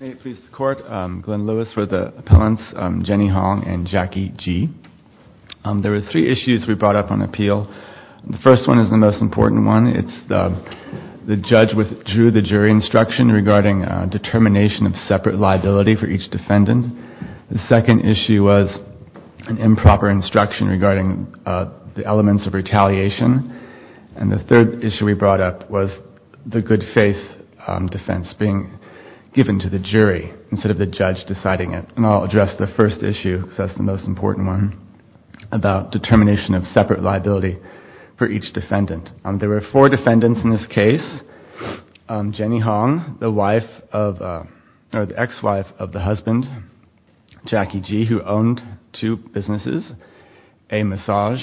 I am pleased to court Glenn Lewis for the appellants Jenny Hong and Jackie Ji. There were three issues we brought up on appeal. The first one is the most important one. It's the judge withdrew the jury instruction regarding determination of separate liability for each defendant. The second issue was an improper instruction regarding the elements of retaliation. And the third issue we brought up was the good faith defense being given to the jury instead of the judge deciding it. And I'll address the first issue because that's the most important one about determination of separate liability for each defendant. There were four defendants in this case. Jenny Hong, the ex-wife of the husband Jackie Ji, who owned two businesses, a massage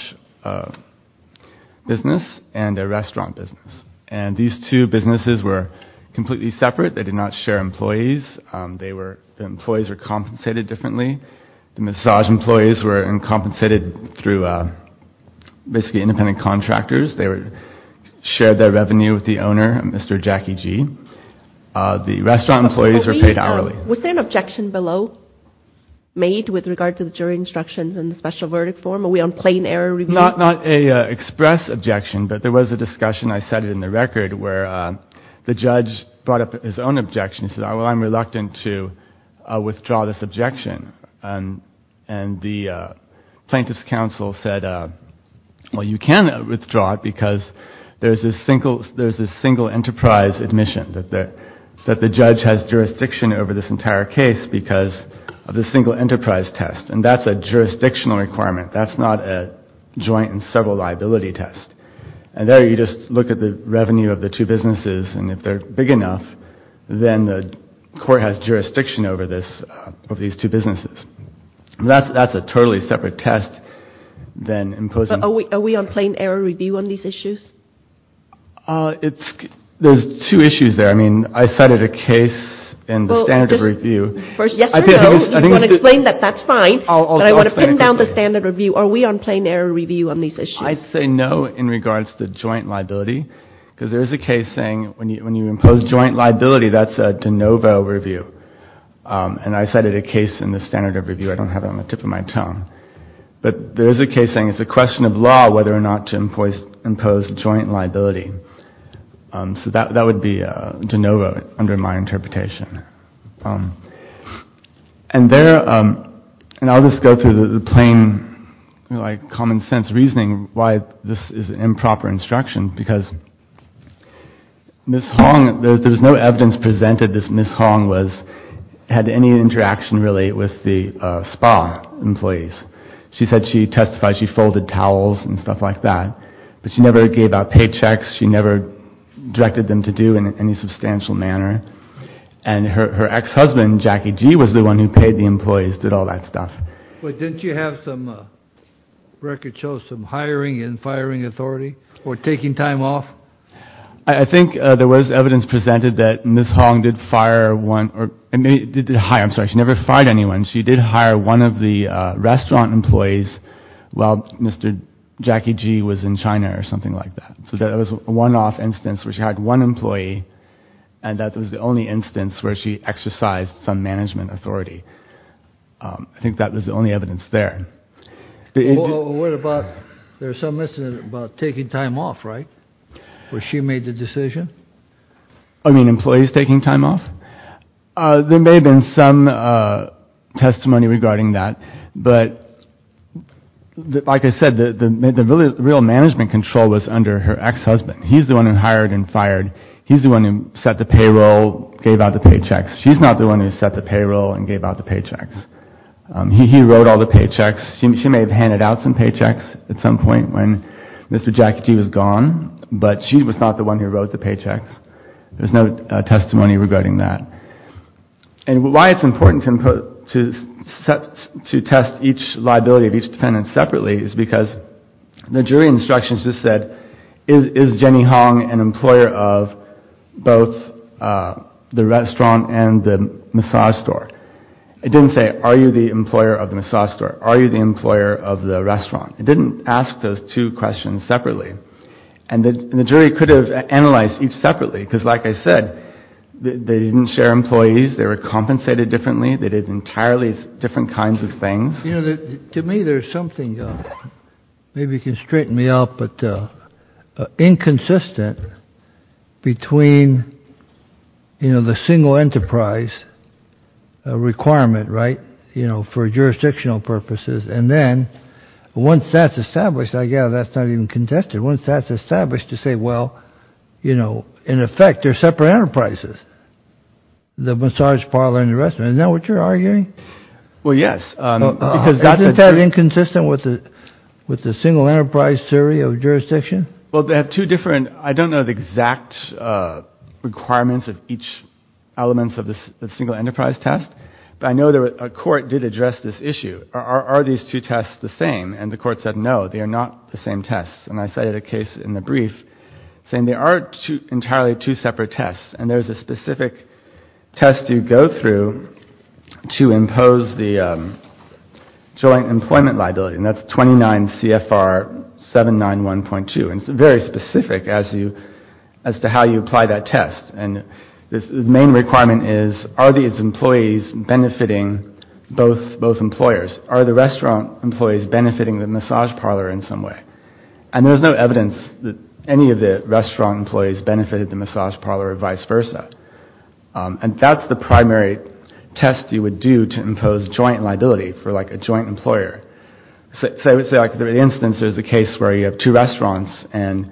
business and a restaurant business. And these two businesses were completely separate. They did not share employees. The employees were compensated differently. The massage employees were compensated through basically independent contractors. They shared their revenue with the owner, Mr. Jackie Ji. The restaurant employees were paid hourly. Was there an objection below made with regard to the jury instructions and the special verdict form? Are we on plain error review? Not an express objection, but there was a discussion. I set it in the record where the judge brought up his own objection. He said, well, I'm reluctant to withdraw this objection. And the plaintiff's counsel said, well, you can withdraw it because there's a single enterprise admission, that the judge has jurisdiction over this entire case because of the single enterprise test. And that's a jurisdictional requirement. That's not a joint and several liability test. And there you just look at the revenue of the two businesses. And if they're big enough, then the court has jurisdiction over this, of these two businesses. That's a totally separate test than imposing. Are we on plain error review on these issues? There's two issues there. I mean, I cited a case in the standard review. First, yes or no? If you want to explain that, that's fine. But I want to pin down the standard review. Are we on plain error review on these issues? I say no in regards to joint liability because there is a case saying when you impose joint liability, that's a de novo review. And I cited a case in the standard review. I don't have it on the tip of my tongue. But there is a case saying it's a question of law whether or not to impose joint liability. So that would be de novo under my interpretation. And there, and I'll just go through the plain, like, common sense reasoning why this is improper instruction. Because Ms. Hong, there was no evidence presented that Ms. Hong was, had any interaction really with the spa employees. She said she testified she folded towels and stuff like that. But she never gave out paychecks. She never directed them to do in any substantial manner. And her ex-husband, Jackie G., was the one who paid the employees, did all that stuff. But didn't you have some record show some hiring and firing authority or taking time off? I think there was evidence presented that Ms. Hong did fire one, did hire, I'm sorry, she never fired anyone. She did hire one of the restaurant employees while Mr. Jackie G. was in China or something like that. So that was a one-off instance where she had one employee. And that was the only instance where she exercised some management authority. I think that was the only evidence there. What about, there's some incident about taking time off, right, where she made the decision? I mean, employees taking time off? There may have been some testimony regarding that. But like I said, the real management control was under her ex-husband. He's the one who hired and fired. He's the one who set the payroll, gave out the paychecks. She's not the one who set the payroll and gave out the paychecks. He wrote all the paychecks. She may have handed out some paychecks at some point when Mr. Jackie G. was gone. But she was not the one who wrote the paychecks. There's no testimony regarding that. And why it's important to test each liability of each defendant separately is because the jury instructions just said, is Jenny Hong an employer of both the restaurant and the massage store? It didn't say, are you the employer of the massage store? Are you the employer of the restaurant? It didn't ask those two questions separately. And the jury could have analyzed each separately, because like I said, they didn't share employees. They were compensated differently. They did entirely different kinds of things. To me, there's something, maybe you can straighten me out, but inconsistent between the single enterprise requirement, right, for jurisdictional purposes, and then once that's established, I gather that's not even contested. Once that's established, you say, well, you know, in effect, they're separate enterprises, the massage parlor and the restaurant. Is that what you're arguing? Well, yes. Isn't that inconsistent with the single enterprise theory of jurisdiction? Well, they have two different, I don't know the exact requirements of each element of the single enterprise test, but I know a court did address this issue. Are these two tests the same? And the court said, no, they are not the same tests. And I cited a case in the brief saying there are entirely two separate tests, and there's a specific test you go through to impose the joint employment liability, and that's 29 CFR 791.2, and it's very specific as to how you apply that test. And the main requirement is, are these employees benefiting both employers? Are the restaurant employees benefiting the massage parlor in some way? And there's no evidence that any of the restaurant employees benefited the massage parlor or vice versa. And that's the primary test you would do to impose joint liability for, like, a joint employer. So I would say, like, for instance, there's a case where you have two restaurants and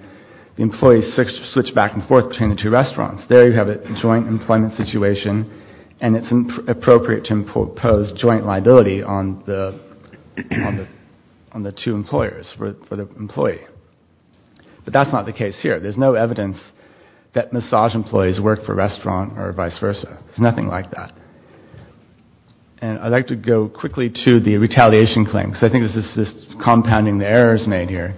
the employees switch back and forth between the two restaurants. There you have a joint employment situation, and it's appropriate to impose joint liability on the two employers for the employee. But that's not the case here. There's no evidence that massage employees work for a restaurant or vice versa. There's nothing like that. And I'd like to go quickly to the retaliation claim, because I think this is compounding the errors made here.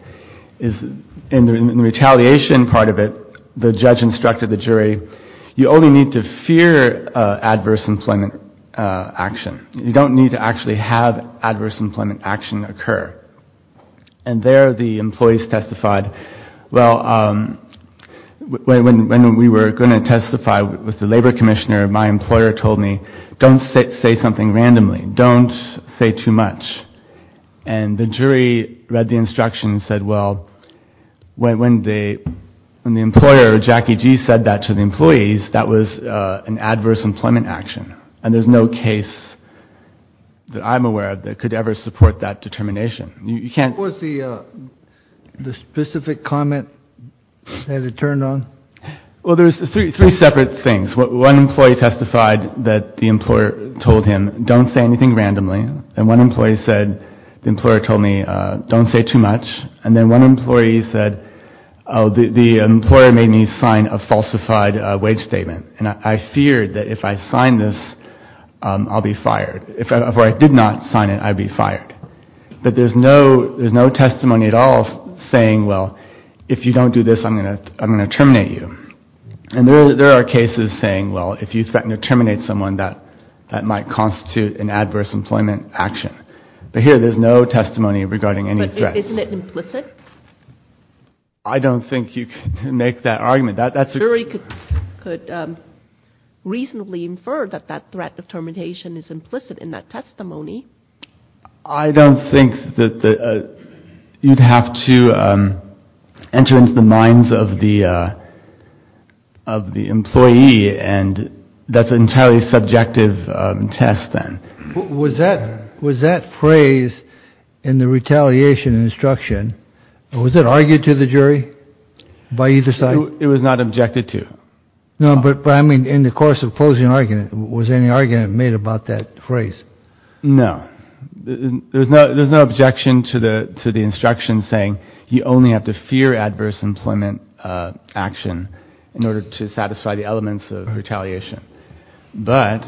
You only need to fear adverse employment action. You don't need to actually have adverse employment action occur. And there the employees testified, well, when we were going to testify with the labor commissioner, my employer told me, don't say something randomly. Don't say too much. And the jury read the instruction and said, well, when the employer, Jackie G., said that to the employees, that was an adverse employment action. And there's no case that I'm aware of that could ever support that determination. You can't. What was the specific comment that it turned on? Well, there's three separate things. One employee testified that the employer told him, don't say anything randomly. And one employee said, the employer told me, don't say too much. And then one employee said, oh, the employer made me sign a falsified wage statement. And I feared that if I signed this, I'll be fired. If I did not sign it, I'd be fired. But there's no testimony at all saying, well, if you don't do this, I'm going to terminate you. And there are cases saying, well, if you threaten to terminate someone, that might constitute an adverse employment action. But here, there's no testimony regarding any threats. But isn't it implicit? I don't think you can make that argument. That's a good question. The jury could reasonably infer that that threat of termination is implicit in that testimony. I don't think that you'd have to enter into the minds of the employee. And that's an entirely subjective test, then. Was that phrase in the retaliation instruction, was it argued to the jury by either side? It was not objected to. No, but I mean in the course of closing argument, was any argument made about that phrase? No. There's no objection to the instruction saying you only have to fear adverse employment action in order to satisfy the elements of retaliation. But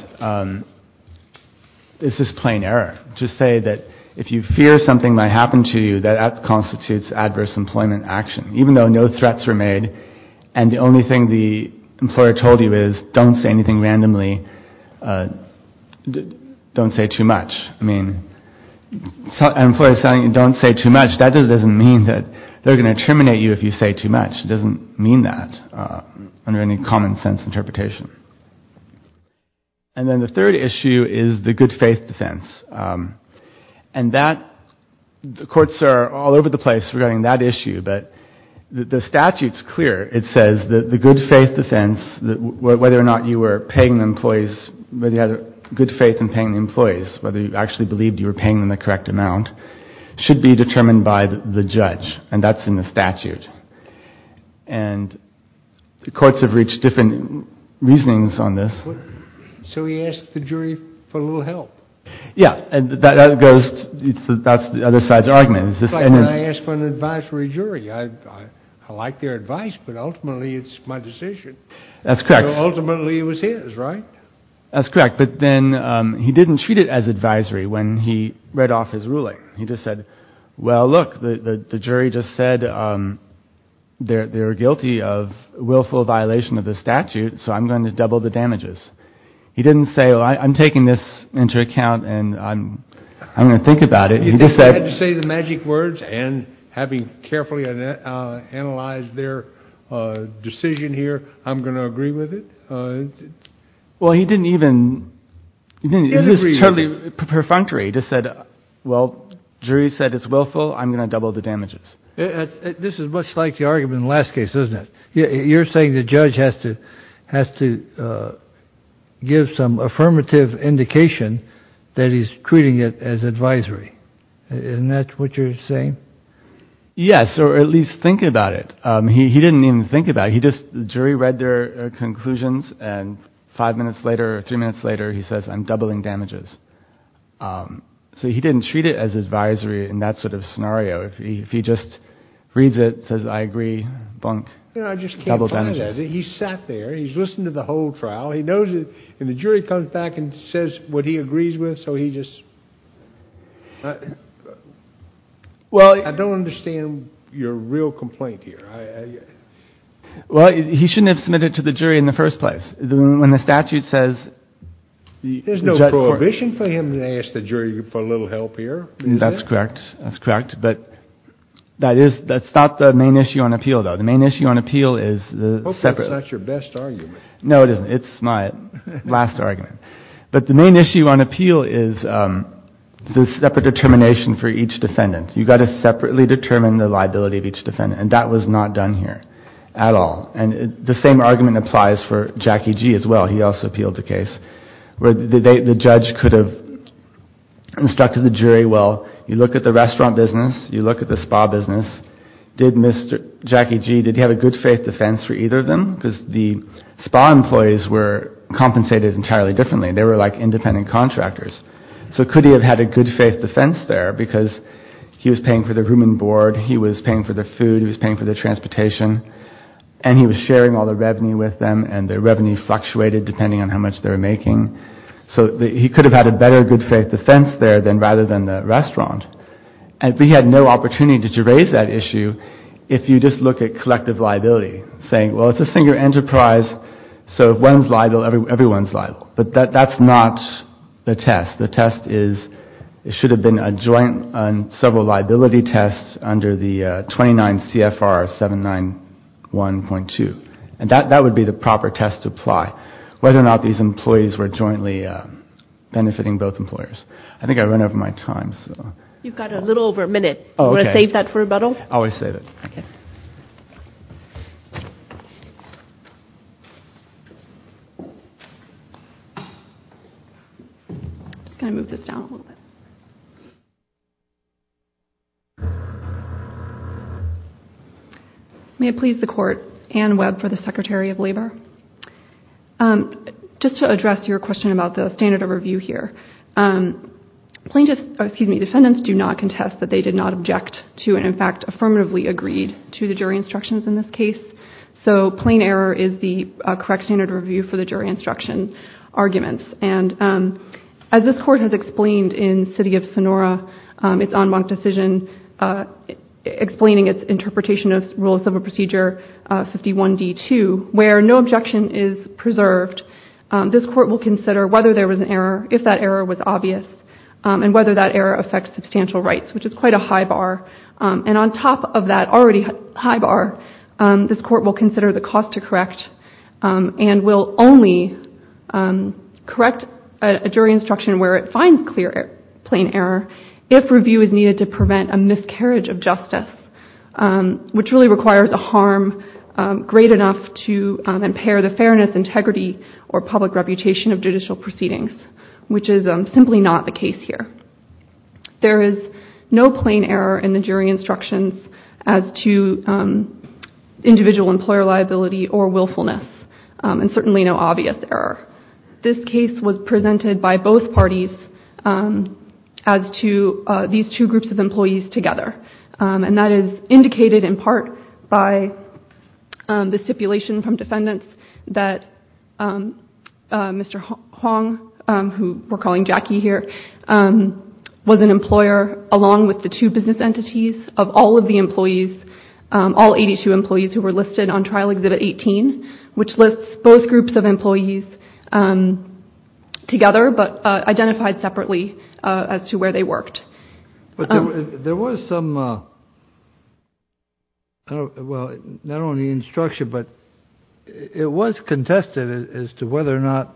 this is plain error. To say that if you fear something might happen to you, that constitutes adverse employment action. Even though no threats were made, and the only thing the employer told you is, don't say anything randomly, don't say too much. I mean, an employer telling you don't say too much, that doesn't mean that they're going to terminate you if you say too much. It doesn't mean that under any common sense interpretation. And then the third issue is the good faith defense. And that, the courts are all over the place regarding that issue, but the statute's clear. It says that the good faith defense, whether or not you were paying the employees, whether you had good faith in paying the employees, whether you actually believed you were paying them the correct amount, should be determined by the judge. And that's in the statute. And the courts have reached different reasonings on this. So he asked the jury for a little help. Yeah. That goes, that's the other side's argument. It's like when I ask for an advisory jury. I like their advice, but ultimately it's my decision. That's correct. Ultimately it was his, right? That's correct. But then he didn't treat it as advisory when he read off his ruling. He just said, well, look, the jury just said they're guilty of willful violation of the statute, so I'm going to double the damages. He didn't say, well, I'm taking this into account and I'm going to think about it. He just said. He didn't say the magic words and having carefully analyzed their decision here, I'm going to agree with it? Well, he didn't even. It's just totally perfunctory. He just said, well, jury said it's willful. I'm going to double the damages. This is much like the argument in the last case, isn't it? You're saying the judge has to give some affirmative indication that he's treating it as advisory. Isn't that what you're saying? Yes, or at least think about it. He didn't even think about it. The jury read their conclusions and five minutes later or three minutes later he says I'm doubling damages. So he didn't treat it as advisory in that sort of scenario. If he just reads it, says I agree, bunk, double damages. I just can't find it. He sat there. He's listened to the whole trial. He knows it. And the jury comes back and says what he agrees with, so he just. Well, I don't understand your real complaint here. Well, he shouldn't have submitted to the jury in the first place. When the statute says. There's no prohibition for him to ask the jury for a little help here. That's correct. That's correct. But that is that's not the main issue on appeal, though. The main issue on appeal is the separate. That's not your best argument. No, it isn't. It's my last argument. But the main issue on appeal is the separate determination for each defendant. You've got to separately determine the liability of each defendant. And that was not done here at all. And the same argument applies for Jackie G as well. He also appealed the case where the judge could have instructed the jury. Well, you look at the restaurant business. You look at the spa business. Did Mr. Jackie G. Did you have a good faith defense for either of them? Because the spa employees were compensated entirely differently. They were like independent contractors. So could he have had a good faith defense there? Because he was paying for the room and board. He was paying for the food. He was paying for the transportation. And he was sharing all the revenue with them. And the revenue fluctuated depending on how much they were making. So he could have had a better good faith defense there than rather than the restaurant. And we had no opportunity to raise that issue. If you just look at collective liability, saying, well, it's a single enterprise. So if one's liable, everyone's liable. But that's not the test. The test is it should have been a joint and several liability tests under the 29 CFR 791.2. And that would be the proper test to apply, whether or not these employees were jointly benefiting both employers. I think I've run over my time. You've got a little over a minute. Do you want to save that for rebuttal? I always save it. Okay. I'm just going to move this down a little bit. May it please the Court. Anne Webb for the Secretary of Labor. Just to address your question about the standard of review here. Defendants do not contest that they did not object to and, in fact, affirmatively agreed to the jury instructions in this case. So plain error is the correct standard of review for the jury instruction arguments. And as this Court has explained in City of Sonora, its en banc decision, explaining its interpretation of Rules of Procedure 51d.2, where no objection is preserved, this Court will consider whether there was an error, if that error was obvious, and whether that error affects substantial rights, which is quite a high bar. And on top of that already high bar, this Court will consider the cost to correct and will only correct a jury instruction where it finds clear plain error if review is needed to prevent a miscarriage of justice, which really requires a harm great enough to impair the fairness, integrity, or public reputation of judicial proceedings, which is simply not the case here. There is no plain error in the jury instructions as to individual employer liability or willfulness, and certainly no obvious error. This case was presented by both parties as to these two groups of employees together, and that is indicated in part by the stipulation from defendants that Mr. Hong, who we're calling Jackie here, was an employer along with the two business entities of all of the employees, all 82 employees who were listed on Trial Exhibit 18, which lists both groups of employees together but identified separately as to where they worked. But there was some, well, not only instruction, but it was contested as to whether or not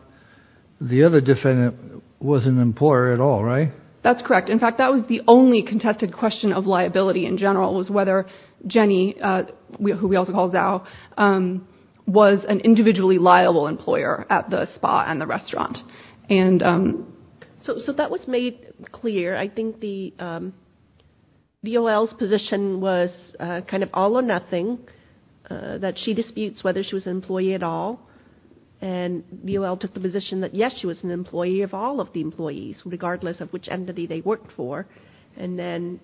the other defendant was an employer at all, right? That's correct. In fact, that was the only contested question of liability in general, was whether Jenny, who we also call Zhao, was an individually liable employer at the spa and the restaurant. So that was made clear. I think the DOL's position was kind of all or nothing, that she disputes whether she was an employee at all. And DOL took the position that, yes, she was an employee of all of the employees, regardless of which entity they worked for. And then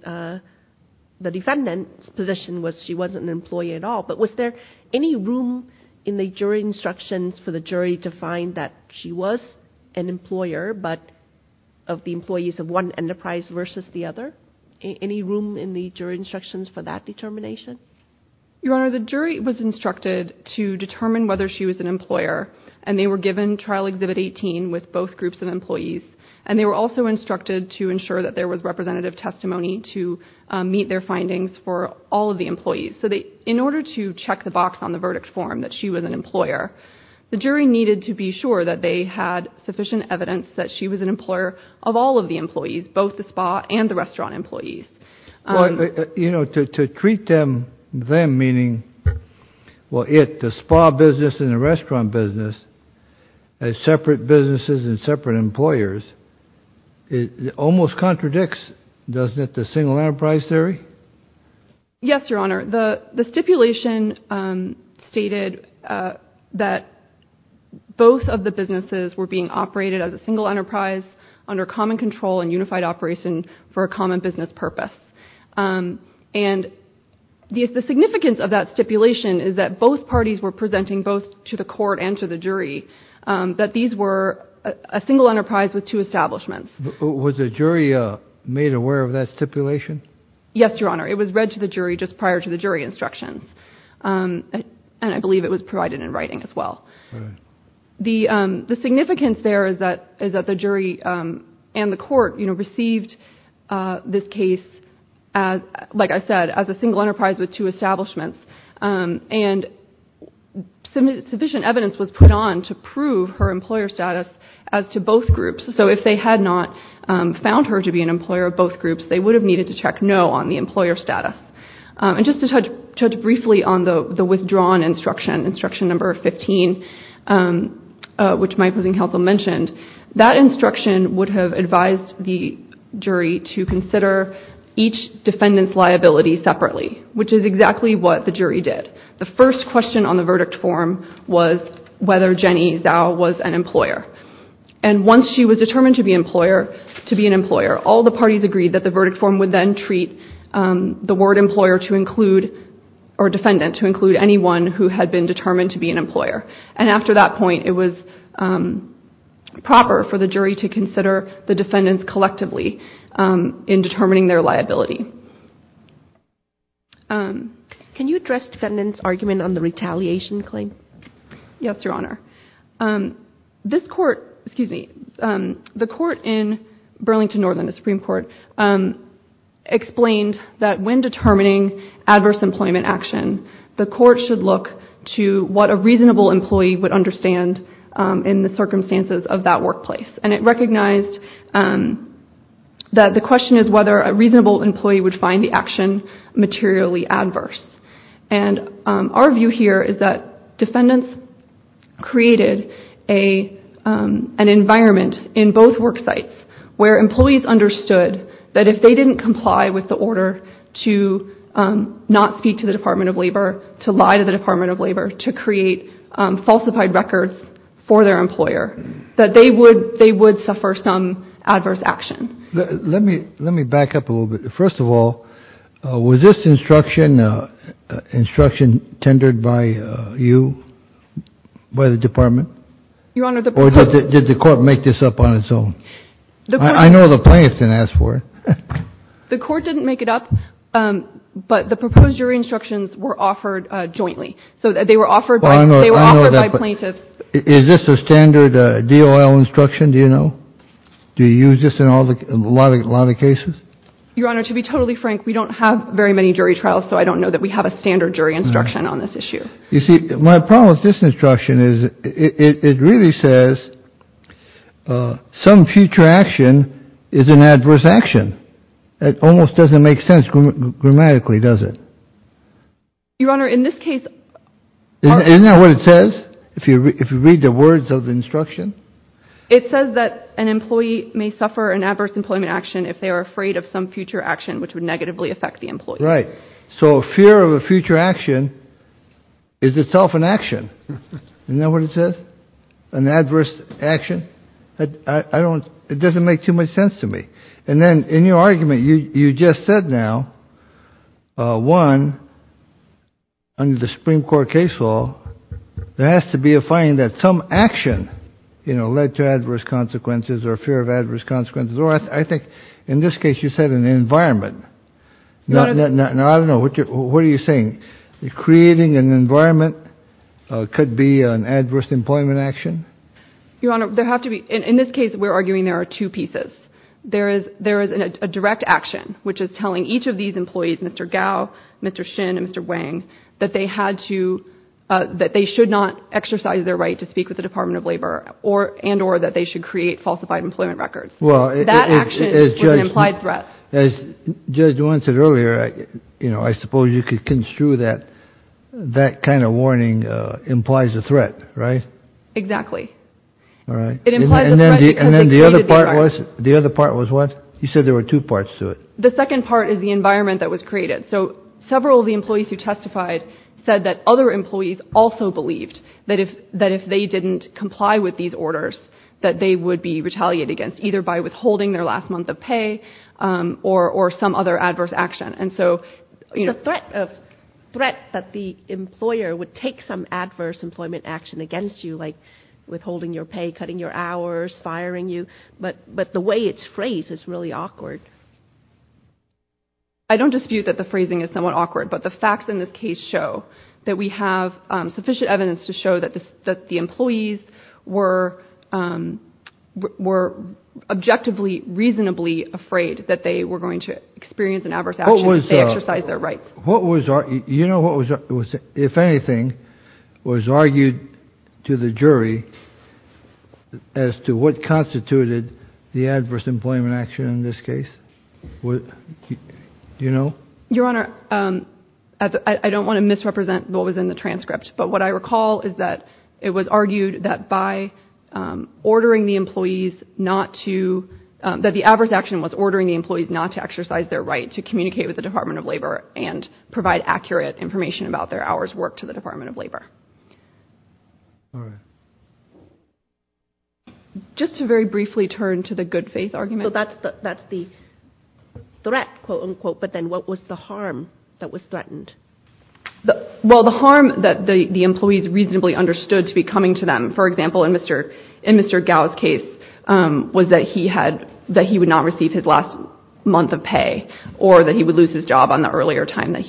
the defendant's position was she wasn't an employee at all. But was there any room in the jury instructions for the jury to find that she was an employer, but of the employees of one enterprise versus the other? Any room in the jury instructions for that determination? Your Honor, the jury was instructed to determine whether she was an employer, and they were given Trial Exhibit 18 with both groups of employees. And they were also instructed to ensure that there was representative testimony to meet their findings for all of the employees. So in order to check the box on the verdict form that she was an employer, the jury needed to be sure that they had sufficient evidence that she was an employer of all of the employees, both the spa and the restaurant employees. You know, to treat them, them meaning, well, it, the spa business and the restaurant business, as separate businesses and separate employers, it almost contradicts, doesn't it, the single enterprise theory? Yes, Your Honor. The stipulation stated that both of the businesses were being operated as a single enterprise under common control and unified operation for a common business purpose. And the significance of that stipulation is that both parties were presenting, both to the court and to the jury, that these were a single enterprise with two establishments. Was the jury made aware of that stipulation? Yes, Your Honor. It was read to the jury just prior to the jury instructions. And I believe it was provided in writing as well. The significance there is that the jury and the court, you know, received this case, like I said, as a single enterprise with two establishments. And sufficient evidence was put on to prove her employer status as to both groups. So if they had not found her to be an employer of both groups, they would have needed to check no on the employer status. And just to touch briefly on the withdrawn instruction, instruction number 15, which my opposing counsel mentioned, that instruction would have advised the jury to consider each defendant's liability separately, which is exactly what the jury did. The first question on the verdict form was whether Jenny Zhao was an employer. And once she was determined to be an employer, all the parties agreed that the verdict form would then treat the word employer to include or defendant to include anyone who had been determined to be an employer. And after that point, it was proper for the jury to consider the defendants collectively in determining their liability. Can you address defendant's argument on the retaliation claim? Yes, Your Honor. This court, excuse me, the court in Burlington Northern, the Supreme Court, explained that when determining adverse employment action, the court should look to what a reasonable employee would understand in the circumstances of that workplace. And it recognized that the question is whether a reasonable employee would find the action materially adverse. And our view here is that defendants created a an environment in both work sites where employees understood that if they didn't comply with the order to not speak to the Department of Labor, to lie to the Department of Labor, to create falsified records for their employer, that they would they would suffer some adverse action. Let me let me back up a little bit. First of all, was this instruction, instruction tendered by you, by the department? Your Honor, the... Or did the court make this up on its own? I know the plaintiff didn't ask for it. The court didn't make it up, but the proposed jury instructions were offered jointly. So they were offered by plaintiffs. Is this a standard DOL instruction, do you know? Do you use this in a lot of cases? Your Honor, to be totally frank, we don't have very many jury trials, so I don't know that we have a standard jury instruction on this issue. You see, my problem with this instruction is it really says some future action is an adverse action. It almost doesn't make sense grammatically, does it? Your Honor, in this case... Isn't that what it says, if you read the words of the instruction? It says that an employee may suffer an adverse employment action if they are afraid of some future action which would negatively affect the employee. Right. So fear of a future action is itself an action. Isn't that what it says? An adverse action? I don't... It doesn't make too much sense to me. And then in your argument, you just said now, one, under the Supreme Court case law, there has to be a finding that some action, you know, led to adverse consequences or fear of adverse consequences, or I think in this case you said an environment. Now, I don't know, what are you saying? Creating an environment could be an adverse employment action? Your Honor, there have to be... In this case, we're arguing there are two pieces. There is a direct action, which is telling each of these employees, Mr. Gao, Mr. Shin, and Mr. Wang, that they had to, that they should not exercise their right to speak with the Department of Labor and or that they should create falsified employment records. Well, it... That action was an implied threat. As Judge Duan said earlier, you know, I suppose you could construe that that kind of warning implies a threat, right? Exactly. All right. It implies a threat because they created the environment. And then the other part was what? You said there were two parts to it. The second part is the environment that was created. So several of the employees who testified said that other employees also believed that if they didn't comply with these orders that they would be retaliated against, either by withholding their last month of pay or some other adverse action. And so, you know... It's a threat that the employer would take some adverse employment action against you, like withholding your pay, cutting your hours, firing you. But the way it's phrased is really awkward. I don't dispute that the phrasing is somewhat awkward, but the facts in this case show that we have sufficient evidence to show that the employees were objectively reasonably afraid that they were going to experience an adverse action if they exercised their rights. What was... You know what was... If anything, was argued to the jury as to what constituted the adverse employment action in this case? Do you know? Your Honor, I don't want to misrepresent what was in the transcript, but what I recall is that it was argued that by ordering the employees not to... That the adverse action was ordering the employees not to exercise their right to communicate with the Department of Labor and provide accurate information about their hours worked to the Department of Labor. All right. Just to very briefly turn to the good faith argument. So that's the threat, but then what was the harm that was threatened? Well, the harm that the employees reasonably understood to be coming to them, for example, in Mr. Gao's case, was that he would not receive his last month of pay or that he would lose his job on the earlier time that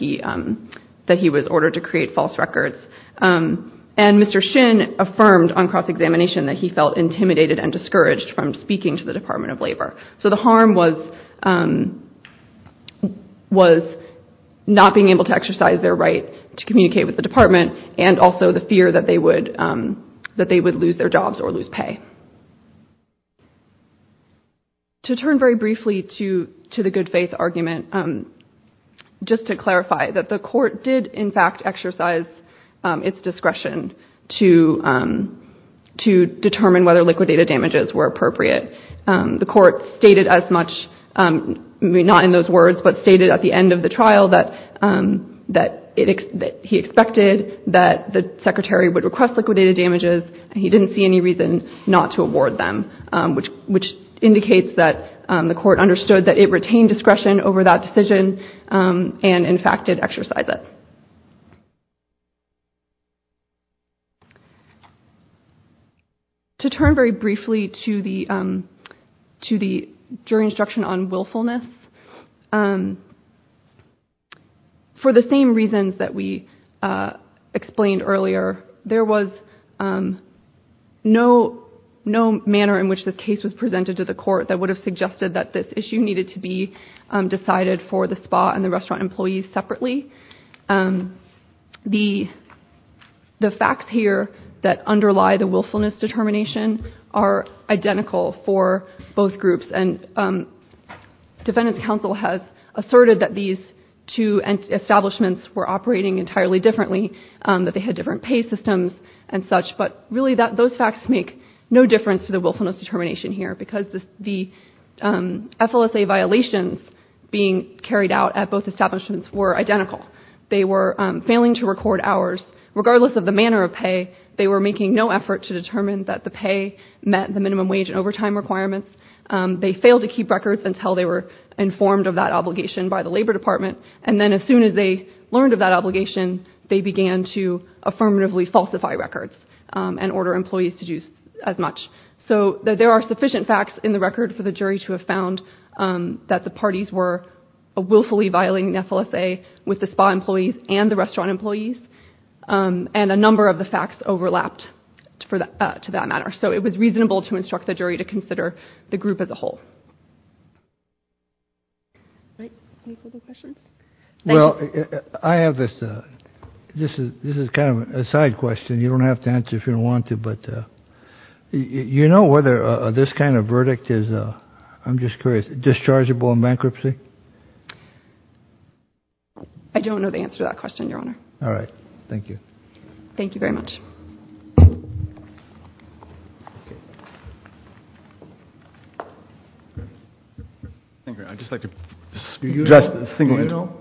he was ordered to create false records. And Mr. Shin affirmed on cross-examination that he felt intimidated and discouraged from speaking to the Department of Labor. So the harm was not being able to exercise their right to communicate with the department and also the fear that they would lose their jobs or lose pay. To turn very briefly to the good faith argument, just to clarify that the court did in fact exercise its discretion to determine whether liquidated damages were appropriate. The court stated as much, not in those words, but stated at the end of the trial that he expected that the secretary would request liquidated damages and he didn't see any reason not to award them, which indicates that the court understood that it retained discretion over that decision and in fact did exercise it. To turn very briefly to the jury instruction on willfulness, for the same reasons that we explained earlier, there was no manner in which this case was presented to the court that would have suggested that this issue needed to be decided for the spa and the restaurant employees separately. The facts here that underlie the willfulness determination are identical for both groups and defendant's counsel has asserted that these two establishments were operating entirely differently, that they had different pay systems and such, but really those facts make no difference to the willfulness determination here because the FLSA violations being carried out at both establishments were identical. They were failing to record hours. Regardless of the manner of pay, they were making no effort to determine that the pay met the minimum wage and overtime requirements. They failed to keep records until they were informed of that obligation by the Labor Department and then as soon as they learned of that obligation, they began to affirmatively falsify records and order employees to do as much. So there are sufficient facts in the record for the jury to have found that the parties were willfully violating the FLSA with the spa employees and the restaurant employees and a number of the facts overlapped to that matter. So it was reasonable to instruct the jury to consider the group as a whole. Thank you. Well, I have this. This is kind of a side question you don't have to answer if you don't want to, but you know whether this kind of verdict is, I'm just curious, dischargeable in bankruptcy? I don't know the answer to that question, Your Honor. All right. Thank you. Thank you very much. I'd just like to address the single enterprise.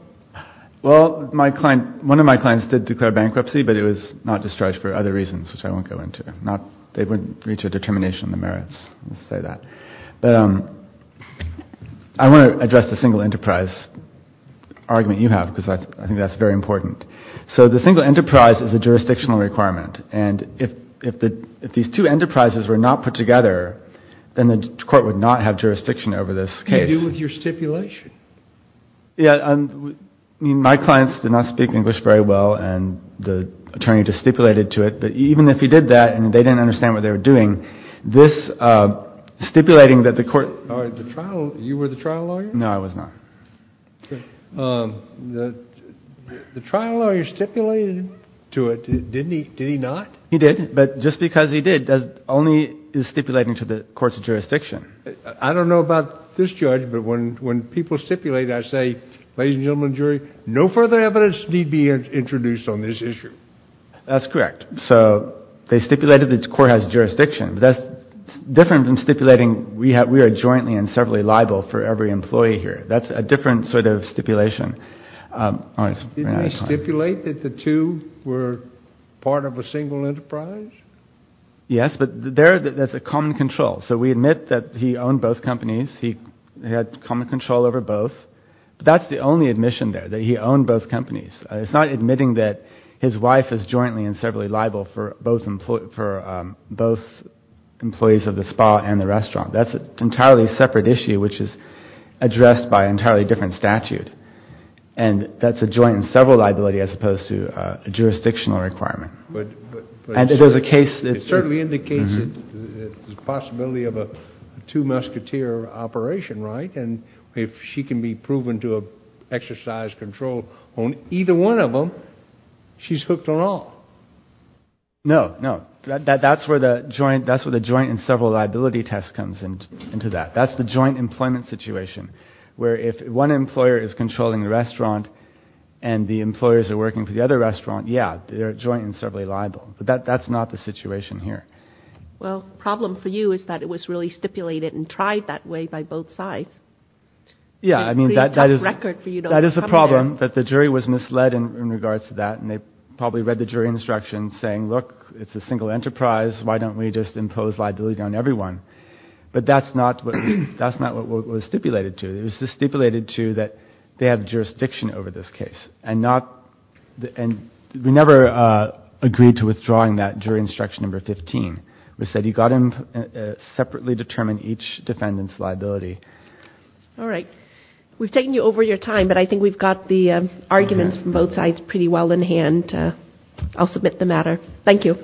Well, one of my clients did declare bankruptcy, but it was not discharged for other reasons, which I won't go into. They wouldn't reach a determination of the merits, I'll say that. I want to address the single enterprise argument you have because I think that's very important. So the single enterprise is a jurisdictional requirement, and if these two enterprises were not put together, then the court would not have jurisdiction over this case. What do you do with your stipulation? Yeah. I mean, my clients did not speak English very well, and the attorney just stipulated to it that even if he did that and they didn't understand what they were doing, this stipulating that the court – All right. You were the trial lawyer? No, I was not. The trial lawyer stipulated to it, didn't he? Did he not? He did, but just because he did only is stipulating to the court's jurisdiction. I don't know about this judge, but when people stipulate, I say, ladies and gentlemen of the jury, no further evidence need be introduced on this issue. That's correct. So they stipulated that the court has jurisdiction, but that's different than stipulating we are jointly and severally liable for every employee here. That's a different sort of stipulation. Didn't he stipulate that the two were part of a single enterprise? Yes, but there that's a common control. So we admit that he owned both companies. He had common control over both. That's the only admission there, that he owned both companies. It's not admitting that his wife is jointly and severally liable for both employees of the spa and the restaurant. That's an entirely separate issue which is addressed by an entirely different statute, and that's a joint and several liability as opposed to a jurisdictional requirement. But it certainly indicates the possibility of a two musketeer operation, right? And if she can be proven to exercise control on either one of them, she's hooked on all. No, no. That's where the joint and several liability test comes into that. That's the joint employment situation where if one employer is controlling the restaurant and the employers are working for the other restaurant, yeah, they're jointly and severally liable. But that's not the situation here. Well, the problem for you is that it was really stipulated and tried that way by both sides. Yeah, I mean, that is a problem, that the jury was misled in regards to that, and they probably read the jury instruction saying, look, it's a single enterprise. Why don't we just impose liability on everyone? But that's not what was stipulated to. It was stipulated to that they have jurisdiction over this case, and we never agreed to withdrawing that jury instruction number 15. All right. We've taken you over your time, but I think we've got the arguments from both sides pretty well in hand. I'll submit the matter. Thank you.